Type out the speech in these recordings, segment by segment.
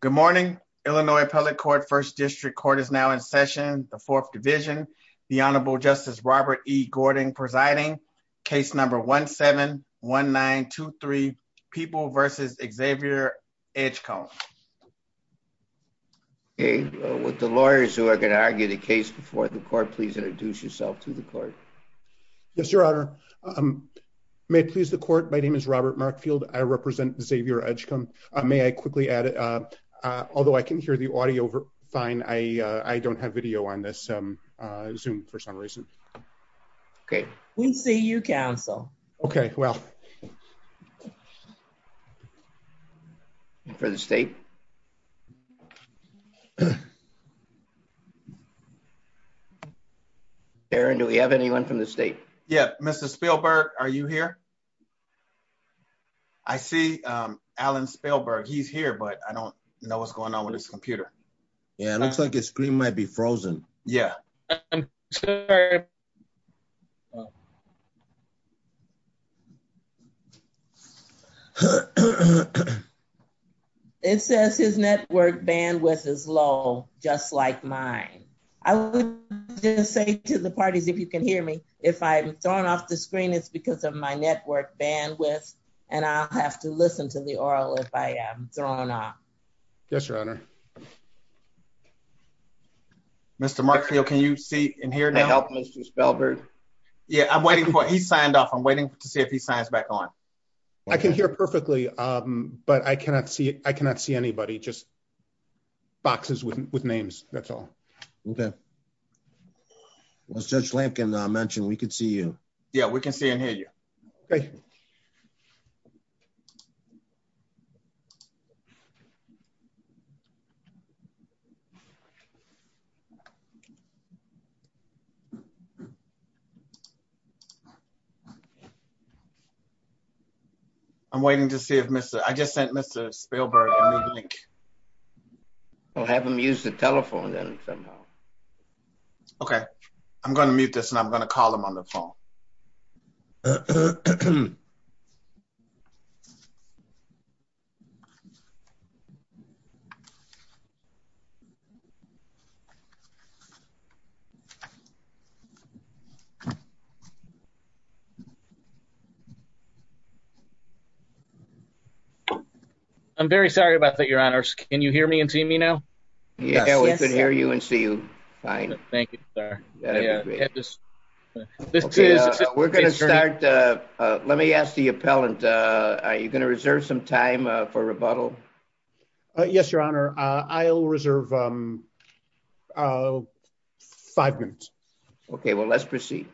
Good morning, Illinois Public Court, 1st District Court is now in session, the 4th Division. The Honorable Justice Robert E. Gordon presiding, case number 1-7-1923, People v. Xavier Edgecombe. With the lawyers who are going to argue the case before the court, please introduce yourself to the court. Yes, Your Honor. May it please the court, my name is Robert Markfield, I represent Xavier Edgecombe. May I quickly add, although I can hear the audio fine, I don't have video on this Zoom for some reason. Okay. We see you, counsel. Okay. Well. For the state. Darren, do we have anyone from the state? Yeah. Mrs. Spielberg, are you here? I see Alan Spielberg, he's here, but I don't know what's going on with his computer. Yeah, it looks like his screen might be frozen. Yeah. It says his network bandwidth is low, just like mine. I would just say to the parties, if you can hear me, if I'm thrown off the screen, it's because of my network bandwidth, and I'll have to listen to the aural if I am thrown off. Yes, Your Honor. Mr. Markfield, can you see and hear now? May I help, Mrs. Spielberg? Yeah, I'm waiting for, he signed off, I'm waiting to see if he signs back on. I can hear perfectly, but I cannot see anybody, just boxes with names, that's all. Okay. As Judge Lampkin mentioned, we can see you. Yeah, we can see and hear you. I'm waiting to see if Mr., I just sent Mr. Spielberg a new link. We'll have him use the telephone then somehow. Okay, I'm going to mute this and I'm going to call him on the phone. I'm very sorry about that, Your Honors. Can you hear me and see me now? Yeah, we can hear you and see you, fine. Thank you, sir. We're going to start, let me ask the appellant, are you going to reserve some time for rebuttal? Yes, Your Honor, I'll reserve five minutes. Okay, well let's proceed.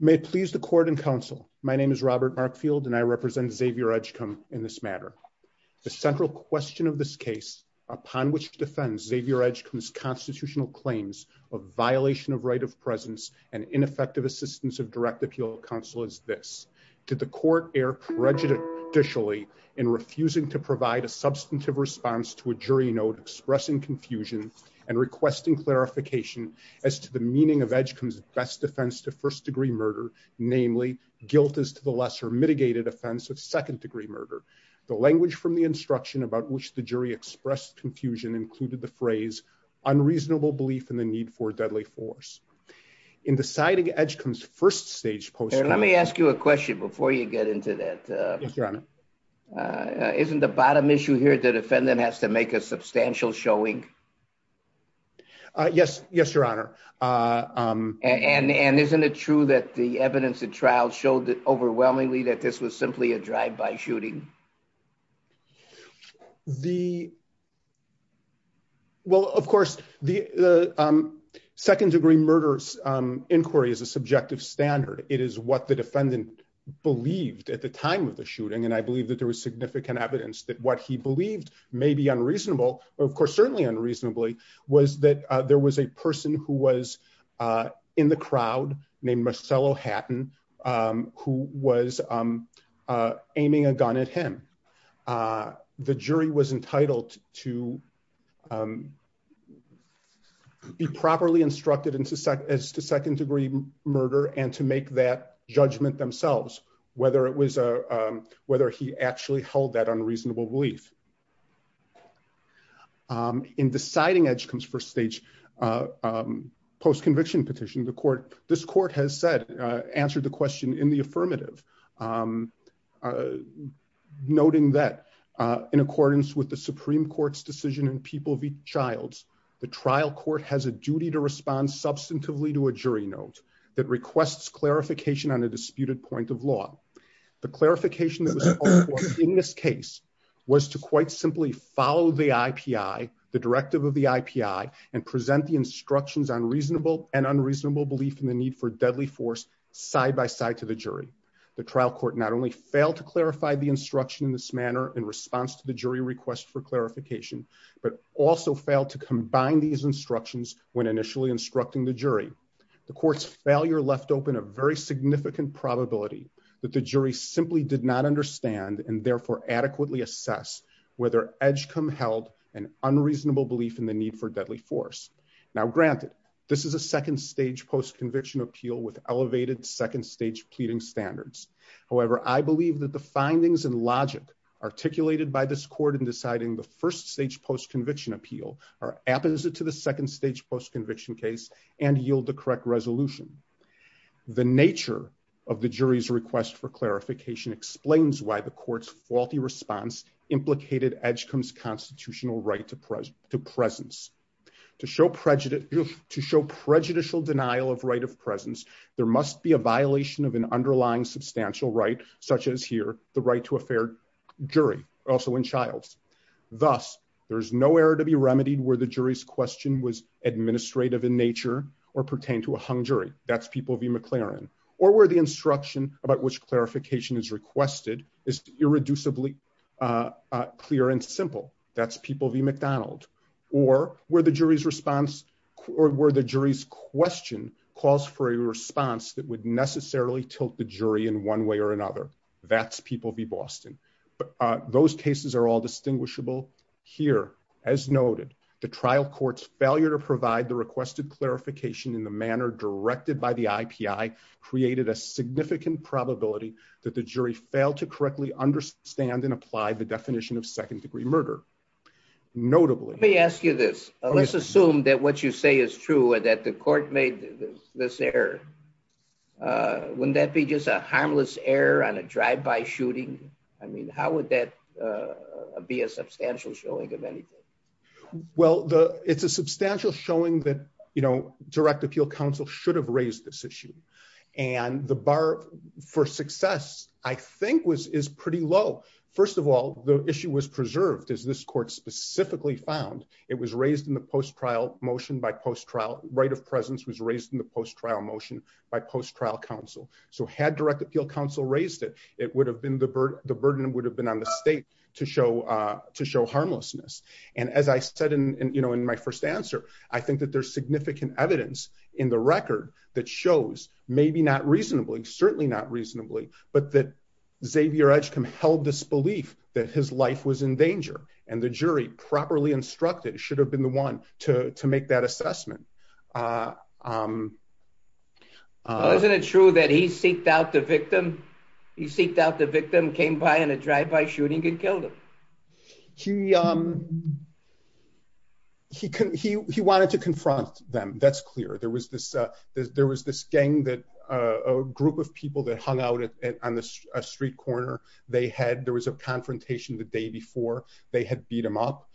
May it please the Court and Counsel, my name is Robert Markfield and I represent Xavier Edgecum in this matter. The central question of this case, upon which defends Xavier Edgecum's constitutional claims of violation of right of presence and ineffective assistance of direct appeal counsel is this. Did the Court err prejudicially in refusing to provide a substantive response to a jury note expressing confusion and requesting clarification as to the meaning of Edgecum's best defense to first degree murder, namely guilt as to the lesser mitigated offense of second degree murder. The language from the instruction about which the jury expressed confusion included the phrase unreasonable belief in the need for a deadly force. In deciding Edgecum's first stage post-court- Let me ask you a question before you get into that. Yes, Your Honor. Isn't the bottom issue here the defendant has to make a substantial showing? Yes, Your Honor. And isn't it true that the evidence at trial showed overwhelmingly that this was simply a drive-by shooting? Well, of course, the second degree murder inquiry is a subjective standard. It is what the defendant believed at the time of the shooting. And I believe that there was significant evidence that what he believed may be unreasonable, of course, certainly unreasonably, was that there was a person who was in the crowd named Marcello Hatton who was aiming a gun at him. The jury was entitled to be properly instructed as to second degree murder and to make that judgment themselves, whether he actually held that unreasonable belief. In deciding Edgecum's first stage post-conviction petition, this court has answered the question in the affirmative, noting that in accordance with the Supreme Court's decision in People v. Childs, the trial court has a duty to respond substantively to a jury note that requests clarification on a disputed point of law. The clarification that was called for in this case was to quite simply follow the IPI, the directive of the IPI, and present the instructions on reasonable and unreasonable belief in the need for deadly force side-by-side to the jury. The trial court not only failed to clarify the instruction in this manner in response to the jury request for clarification, but also failed to combine these instructions when initially instructing the jury. The court's failure left open a very significant probability that the jury simply did not understand and therefore adequately assess whether Edgecum held an unreasonable belief in the need for deadly force. Now granted, this is a second stage post-conviction appeal with elevated second stage pleading standards. However, I believe that the findings and logic articulated by this court in deciding the first stage post-conviction appeal are apposite to the second stage post-conviction case and yield the correct resolution. The nature of the jury's request for clarification explains why the court's faulty response implicated Edgecum's constitutional right to presence. To show prejudicial denial of right of presence, there must be a violation of an underlying substantial right, such as here, the right to a fair jury, also in childs. Thus, there's nowhere to be remedied where the jury's question was administrative in nature or pertain to a hung jury. That's people v. McLaren. Or where the instruction about which clarification is requested is irreducibly clear and simple. That's people v. McDonald. Or where the jury's response or where the jury's question calls for a response that would necessarily tilt the jury in one way or another. That's people v. Boston. Those cases are all distinguishable. Here, as noted, the trial court's failure to provide the requested clarification in the manner directed by the IPI created a significant probability that the jury failed to correctly understand and apply the definition of second-degree murder. Notably- Let me ask you this. Let's assume that what you say is true and that the court made this error. Wouldn't that be just a harmless error on a drive-by shooting? I mean, how would that be a substantial showing of anything? Well, it's a substantial showing that direct appeal counsel should have raised this issue. And the bar for success, I think, is pretty low. First of all, the issue was preserved, as this court specifically found. It was raised in the post-trial motion by post-trial. The right of presence was raised in the post-trial motion by post-trial counsel. So had direct appeal counsel raised it, the burden would have been on the state to show harmlessness. And as I said in my first answer, I think that there's significant evidence in the record that shows maybe not reasonably, certainly not reasonably, but that Xavier Edgecombe held this belief that his life was in danger. And the jury, properly instructed, should have been the one to make that assessment. Well, isn't it true that he seeked out the victim? He seeked out the victim, came by in a drive-by shooting, and killed him? He wanted to confront them. That's clear. There was this gang, a group of people that hung out on a street corner. There was a confrontation the day before. They had beat him up.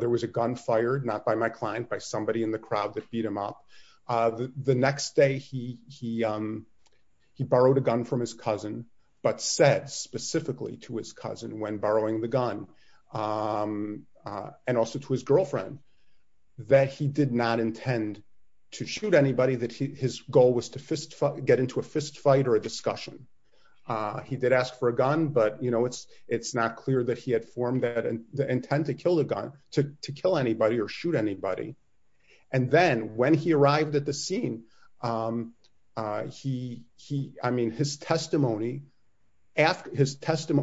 There was a gun fired, not by my client, by somebody in the crowd that beat him up. The next day, he borrowed a gun from his cousin, but said specifically to his cousin when borrowing the gun, and also to his girlfriend, that he did not intend to shoot anybody, that his goal was to get into a fistfight or a discussion. He did ask for a gun, but it's not clear that he had formed the intent to kill anybody or shoot anybody. And then, when he arrived at the scene, his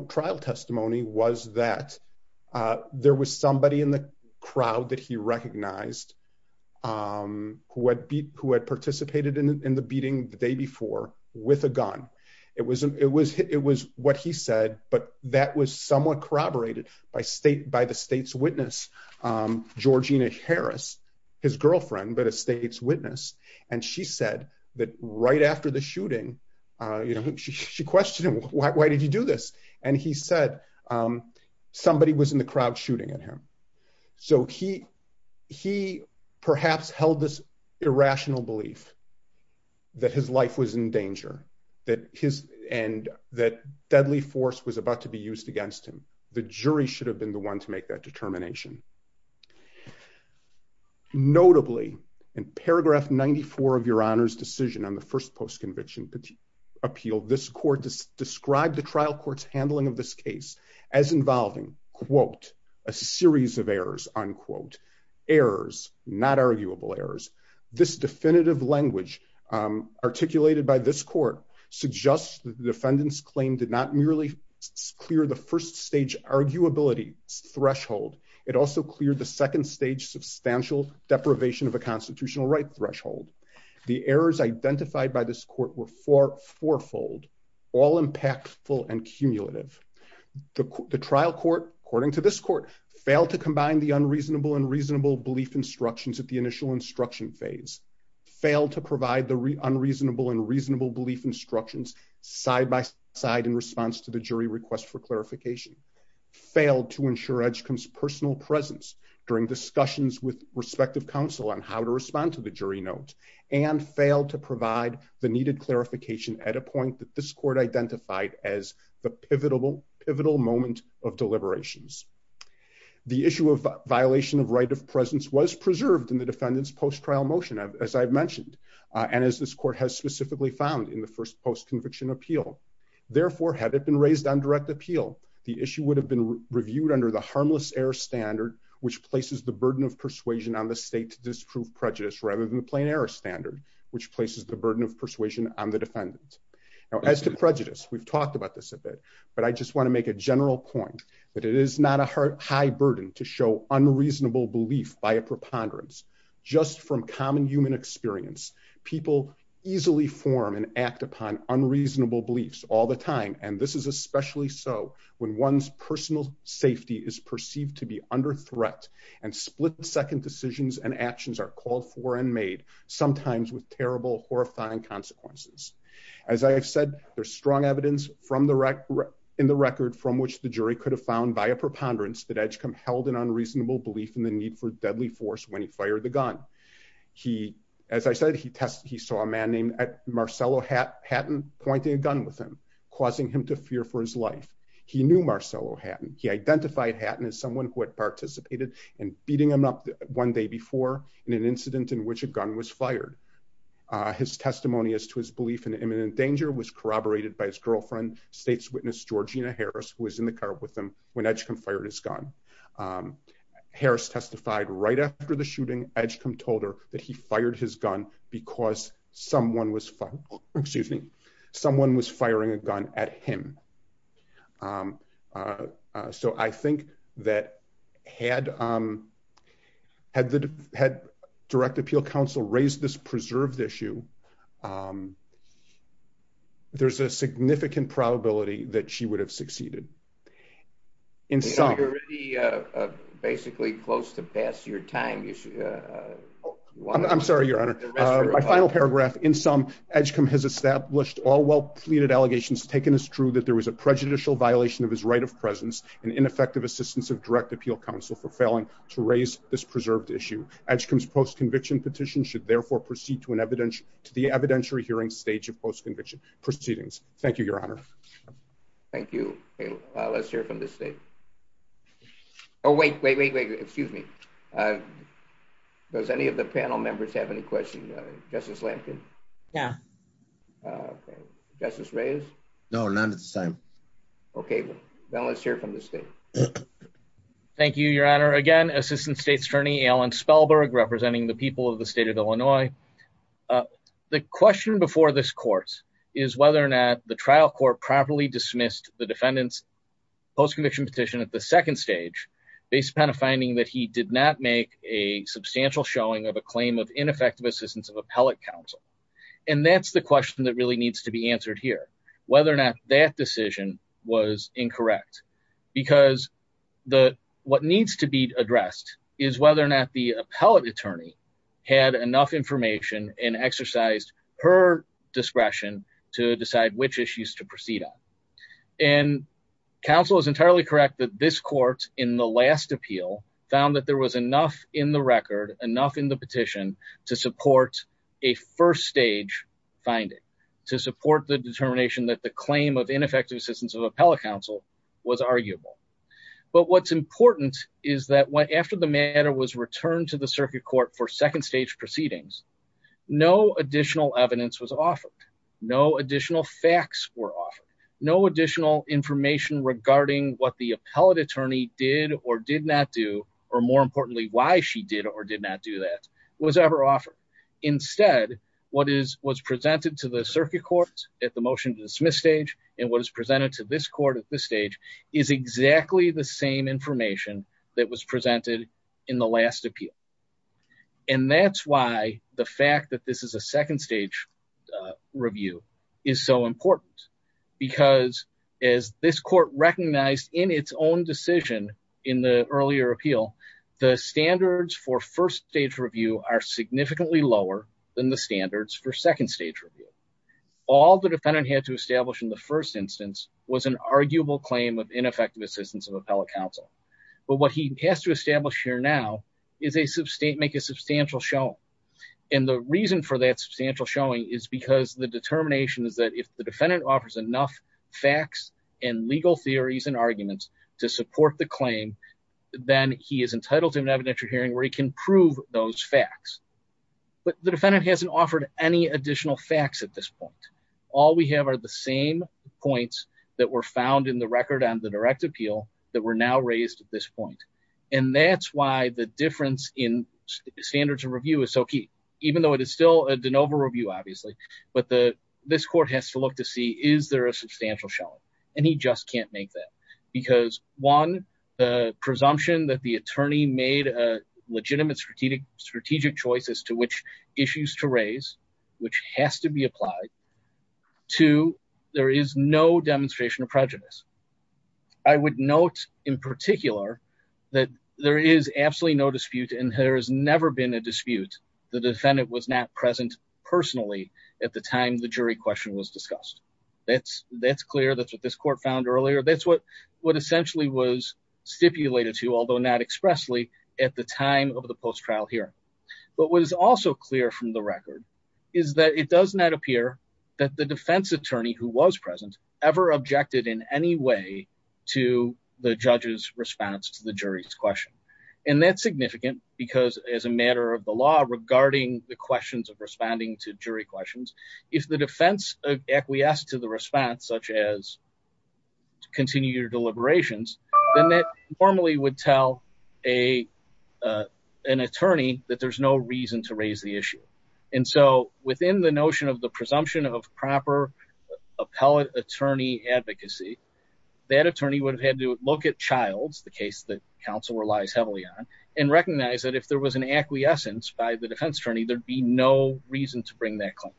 trial testimony was that there was somebody in the crowd that he recognized who had participated in the beating the day before with a gun. It was what he said, but that was somewhat corroborated by the state's witness, Georgina Harris, his girlfriend, but a state's witness. And she said that right after the shooting, she questioned him, why did you do this? And he said, somebody was in the crowd shooting at him. So he perhaps held this irrational belief that his life was in danger, and that deadly force was about to be used against him. The jury should have been the one to make that determination. Notably, in paragraph 94 of your Honor's decision on the first post-conviction appeal, this court described the trial court's handling of this case as involving, quote, a series of errors, unquote, errors, not arguable errors. This definitive language articulated by this court suggests that the defendant's claim did not merely clear the first stage arguability threshold. It also cleared the second stage substantial deprivation of a constitutional right threshold. The errors identified by this court were fourfold, all impactful and cumulative. The trial court, according to this court, failed to combine the unreasonable and reasonable belief instructions at the initial instruction phase, failed to provide the unreasonable and reasonable belief instructions side by side in response to the jury request for clarification, failed to ensure Edgecombe's personal presence during discussions with respective counsel on how to respond to the jury note, and failed to provide the needed clarification at a point that this court identified as the pivotal moment of deliberations. The issue of violation of right of presence was preserved in the defendant's post-trial motion, as I've mentioned, and as this court has specifically found in the first post-conviction appeal. Therefore, had it been raised on direct appeal, the issue would have been reviewed under the harmless error standard, which places the burden of persuasion on the state to disprove prejudice rather than the plain error standard, which places the burden of persuasion on the defendant. Now, as to prejudice, we've talked about this a bit, but I just want to make a general point that it is not a high burden to show unreasonable belief by a preponderance. Just from common human experience, people easily form and act upon unreasonable beliefs all the time. And this is especially so when one's personal safety is perceived to be under threat, and split-second decisions and actions are called for and made, sometimes with terrible, horrifying consequences. As I have said, there's strong evidence in the record from which the jury could have found by a preponderance that Edgecombe held an unreasonable belief in the need for deadly force when he fired the gun. As I said, he saw a man named Marcello Hatton pointing a gun with him, causing him to fear for his life. He knew Marcello Hatton. He identified Hatton as someone who had participated in beating him up one day before in an incident in which a gun was fired. His testimony as to his belief in imminent danger was corroborated by his girlfriend, state's witness Georgina Harris, who was in the car with him when Edgecombe fired his gun. Harris testified right after the shooting, Edgecombe told her that he fired his gun because someone was firing a gun at him. So I think that had the Direct Appeal Council raised this preserved issue, there's a significant probability that she would have succeeded. You're already basically close to past your time. I'm sorry, Your Honor. My final paragraph. In sum, Edgecombe has established all well-pleaded allegations taken as true that there was a prejudicial violation of his right of presence and ineffective assistance of Direct Appeal Council for failing to raise this preserved issue. Edgecombe's post-conviction petition should therefore proceed to the evidentiary hearing stage of post-conviction proceedings. Thank you, Your Honor. Thank you. Let's hear from the state. Oh, wait, wait, wait, wait. Excuse me. Does any of the panel members have any questions? Justice Lamkin? Yeah. Justice Reyes? No, none at this time. Okay. Then let's hear from the state. Thank you, Your Honor. Again, Assistant State's Attorney Alan Spellberg representing the people of the state of Illinois. The question before this court is whether or not the trial court properly dismissed the defendant's post-conviction petition at the second stage based upon a finding that he did not make a substantial showing of a claim of ineffective assistance of Appellate Council. And that's the question that really needs to be answered here, whether or not that decision was incorrect. Because what needs to be addressed is whether or not the Appellate Attorney had enough information and exercised her discretion to decide which issues to proceed on. And counsel is entirely correct that this court, in the last appeal, found that there was enough in the record, enough in the petition, to support a first stage finding. To support the determination that the claim of ineffective assistance of Appellate Council was arguable. But what's important is that after the matter was returned to the circuit court for second stage proceedings, no additional evidence was offered. No additional facts were offered. No additional information regarding what the Appellate Attorney did or did not do, or more importantly, why she did or did not do that, was ever offered. Instead, what was presented to the circuit court at the motion to dismiss stage, and what is presented to this court at this stage, is exactly the same information that was presented in the last appeal. And that's why the fact that this is a second stage review is so important. Because as this court recognized in its own decision in the earlier appeal, the standards for first stage review are significantly lower than the standards for second stage review. All the defendant had to establish in the first instance was an arguable claim of ineffective assistance of Appellate Council. But what he has to establish here now is make a substantial showing. And the reason for that substantial showing is because the determination is that if the defendant offers enough facts and legal theories and arguments to support the claim, then he is entitled to an evidentiary hearing where he can prove those facts. But the defendant hasn't offered any additional facts at this point. All we have are the same points that were found in the record on the direct appeal that were now raised at this point. And that's why the difference in standards of review is so key. Even though it is still a de novo review, obviously, but this court has to look to see, is there a substantial showing? And he just can't make that. Because, one, the presumption that the attorney made a legitimate strategic choice as to which issues to raise, which has to be applied. Two, there is no demonstration of prejudice. I would note in particular that there is absolutely no dispute and there has never been a dispute. The defendant was not present personally at the time the jury question was discussed. That's clear. That's what this court found earlier. That's what essentially was stipulated to, although not expressly, at the time of the post-trial hearing. But what is also clear from the record is that it does not appear that the defense attorney who was present ever objected in any way to the judge's response to the jury's question. And that's significant because as a matter of the law regarding the questions of responding to jury questions, if the defense acquiesced to the response, such as to continue your deliberations, then that formally would tell an attorney that there's no reason to raise the issue. And so within the notion of the presumption of proper appellate attorney advocacy, that attorney would have had to look at Childs, the case that counsel relies heavily on, and recognize that if there was an acquiescence by the defense attorney, there'd be no reason to bring that claim.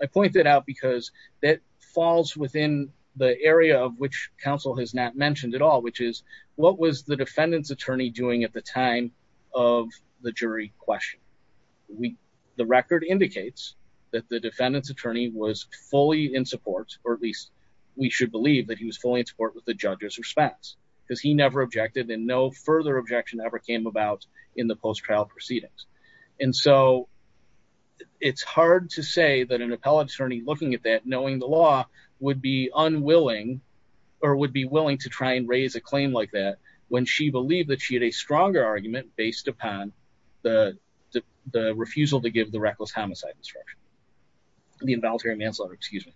I point that out because that falls within the area of which counsel has not mentioned at all, which is what was the defendant's attorney doing at the time of the jury question? The record indicates that the defendant's attorney was fully in support, or at least we should believe that he was fully in support with the judge's response, because he never objected and no further objection ever came about in the post-trial proceedings. And so it's hard to say that an appellate attorney looking at that, knowing the law, would be unwilling or would be willing to try and raise a claim like that when she believed that she had a stronger argument based upon the refusal to give the reckless homicide instruction, the involuntary manslaughter, excuse me.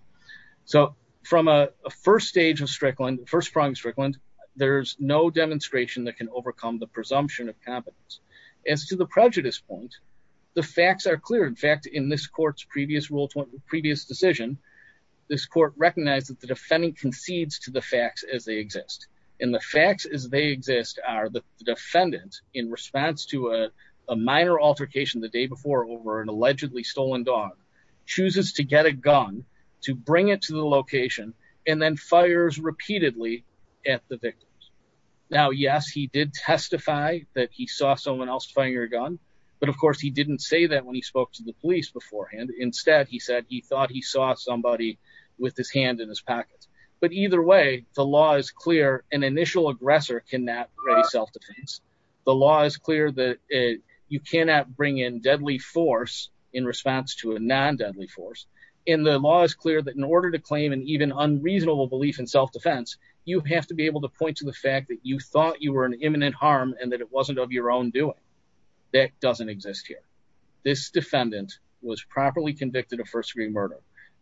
So from a first stage of Strickland, first prime Strickland, there's no demonstration that can overcome the presumption of competence. As to the prejudice point, the facts are clear. In fact, in this court's previous decision, this court recognized that the defendant concedes to the facts as they exist. And the facts as they exist are the defendant, in response to a minor altercation the day before over an allegedly stolen dog, chooses to get a gun to bring it to the location and then fires repeatedly at the victims. Now, yes, he did testify that he saw someone else firing a gun. But, of course, he didn't say that when he spoke to the police beforehand. Instead, he said he thought he saw somebody with his hand in his pockets. But either way, the law is clear. An initial aggressor cannot raise self-defense. The law is clear that you cannot bring in deadly force in response to a non-deadly force. And the law is clear that in order to claim an even unreasonable belief in self-defense, you have to be able to point to the fact that you thought you were an imminent harm and that it wasn't of your own doing. That doesn't exist here. This defendant was properly convicted of first degree murder.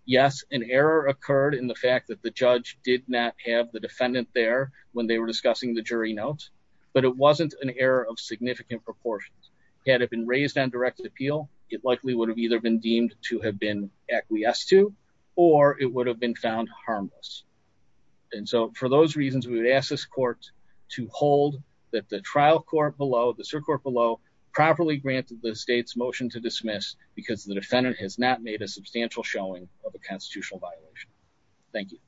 Yes, an error occurred in the fact that the judge did not have the defendant there when they were discussing the jury notes. But it wasn't an error of significant proportions. Had it been raised on direct appeal, it likely would have either been deemed to have been acquiesced to or it would have been found harmless. And so for those reasons, we would ask this court to hold that the trial court below, the circuit below, properly granted the state's motion to dismiss because the defendant has not made a substantial showing of a constitutional violation. Thank you.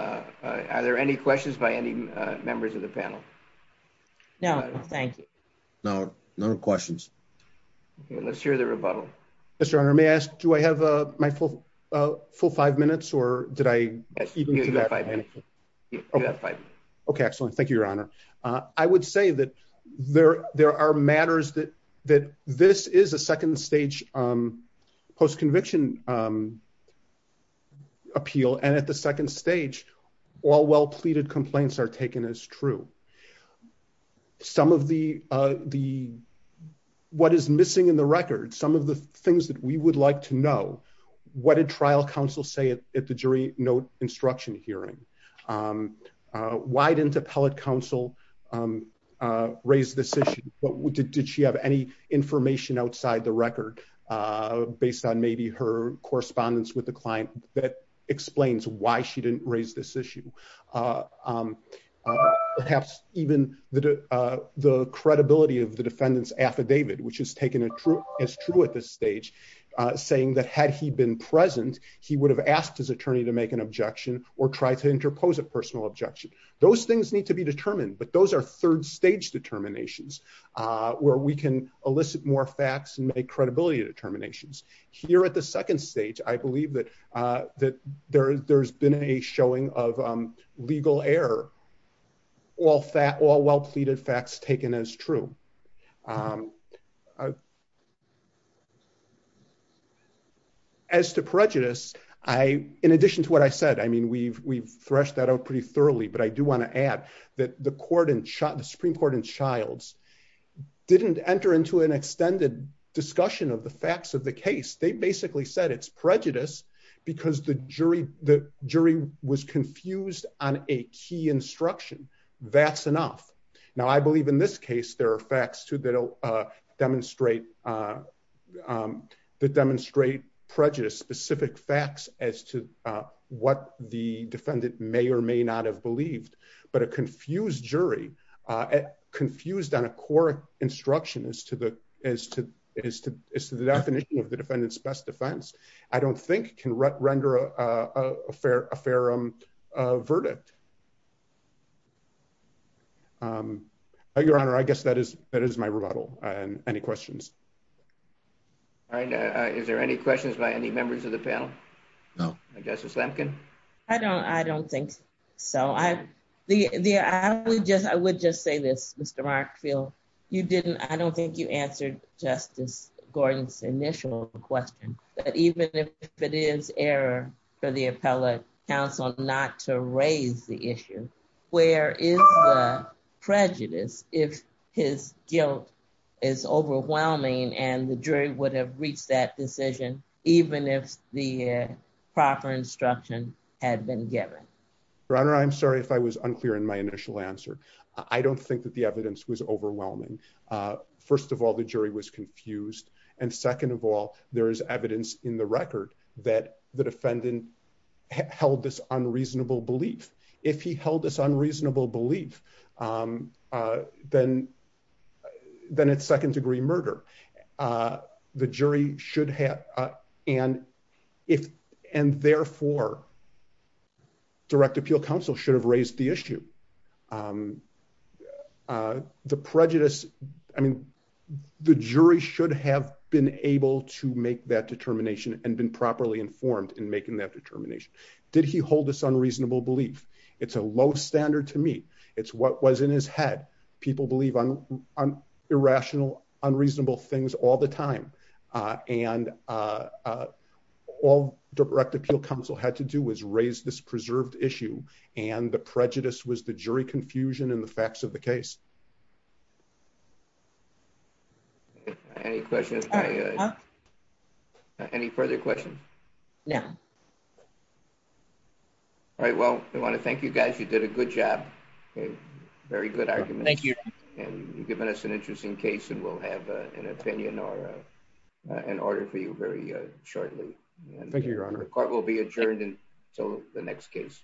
Are there any questions by any members of the panel? No, thank you. No, no questions. Let's hear the rebuttal. Mr. Honor, may I ask, do I have my full five minutes or did I? You have five minutes. Okay, excellent. Thank you, Your Honor. I would say that there there are matters that that this is a second stage post conviction appeal. And at the second stage, all well pleaded complaints are taken as true. Some of the the what is missing in the record, some of the things that we would like to know what a trial counsel say at the jury note instruction hearing. Why didn't appellate counsel raise this issue? But did she have any information outside the record based on maybe her correspondence with the client that explains why she didn't raise this issue? Perhaps even the the credibility of the defendant's affidavit, which is taken as true as true at this stage, saying that had he been present, he would have asked his attorney to make an objection or try to interpose a personal objection. Those things need to be determined. But those are third stage determinations where we can elicit more facts and credibility determinations. Here at the second stage, I believe that that there's there's been a showing of legal error. All that all well pleaded facts taken as true. As to prejudice, I in addition to what I said, I mean, we've we've threshed that out pretty thoroughly. But I do want to add that the court and the Supreme Court and Childs didn't enter into an extended discussion of the facts of the case. They basically said it's prejudice because the jury the jury was confused on a key instruction. That's enough. Now, I believe in this case, there are facts to demonstrate that demonstrate prejudice, specific facts as to what the defendant may or may not have believed. But a confused jury, confused on a core instruction as to the as to as to the definition of the defendant's best defense, I don't think can render a fair a fair verdict. Your Honor, I guess that is that is my rebuttal. Any questions? Is there any questions by any members of the panel? No, I guess it's Lampkin. I don't I don't think so. I the I would just I would just say this, Mr. Mark feel you didn't. I don't think you answered Justice Gordon's initial question. But even if it is error for the appellate counsel not to raise the issue, where is prejudice if his guilt is overwhelming and the jury would have reached that decision, even if the proper instruction had been given. I'm sorry if I was unclear in my initial answer. I don't think that the evidence was overwhelming. First of all, the jury was confused. And second of all, there is evidence in the record that the defendant held this unreasonable belief. If he held this unreasonable belief. Then, then it's second degree murder. The jury should have. And if, and therefore, direct appeal counsel should have raised the issue. The prejudice. I mean, the jury should have been able to make that determination and been properly informed in making that determination. Did he hold this unreasonable belief. It's a low standard to me. It's what was in his head. People believe on on irrational unreasonable things all the time. And all direct appeal counsel had to do was raise this preserved issue, and the prejudice was the jury confusion and the facts of the case. Any questions. Any further questions. Yeah. All right, well, I want to thank you guys you did a good job. Very good argument. Thank you. And you've given us an interesting case and we'll have an opinion or an order for you very shortly. The court will be adjourned until the next case.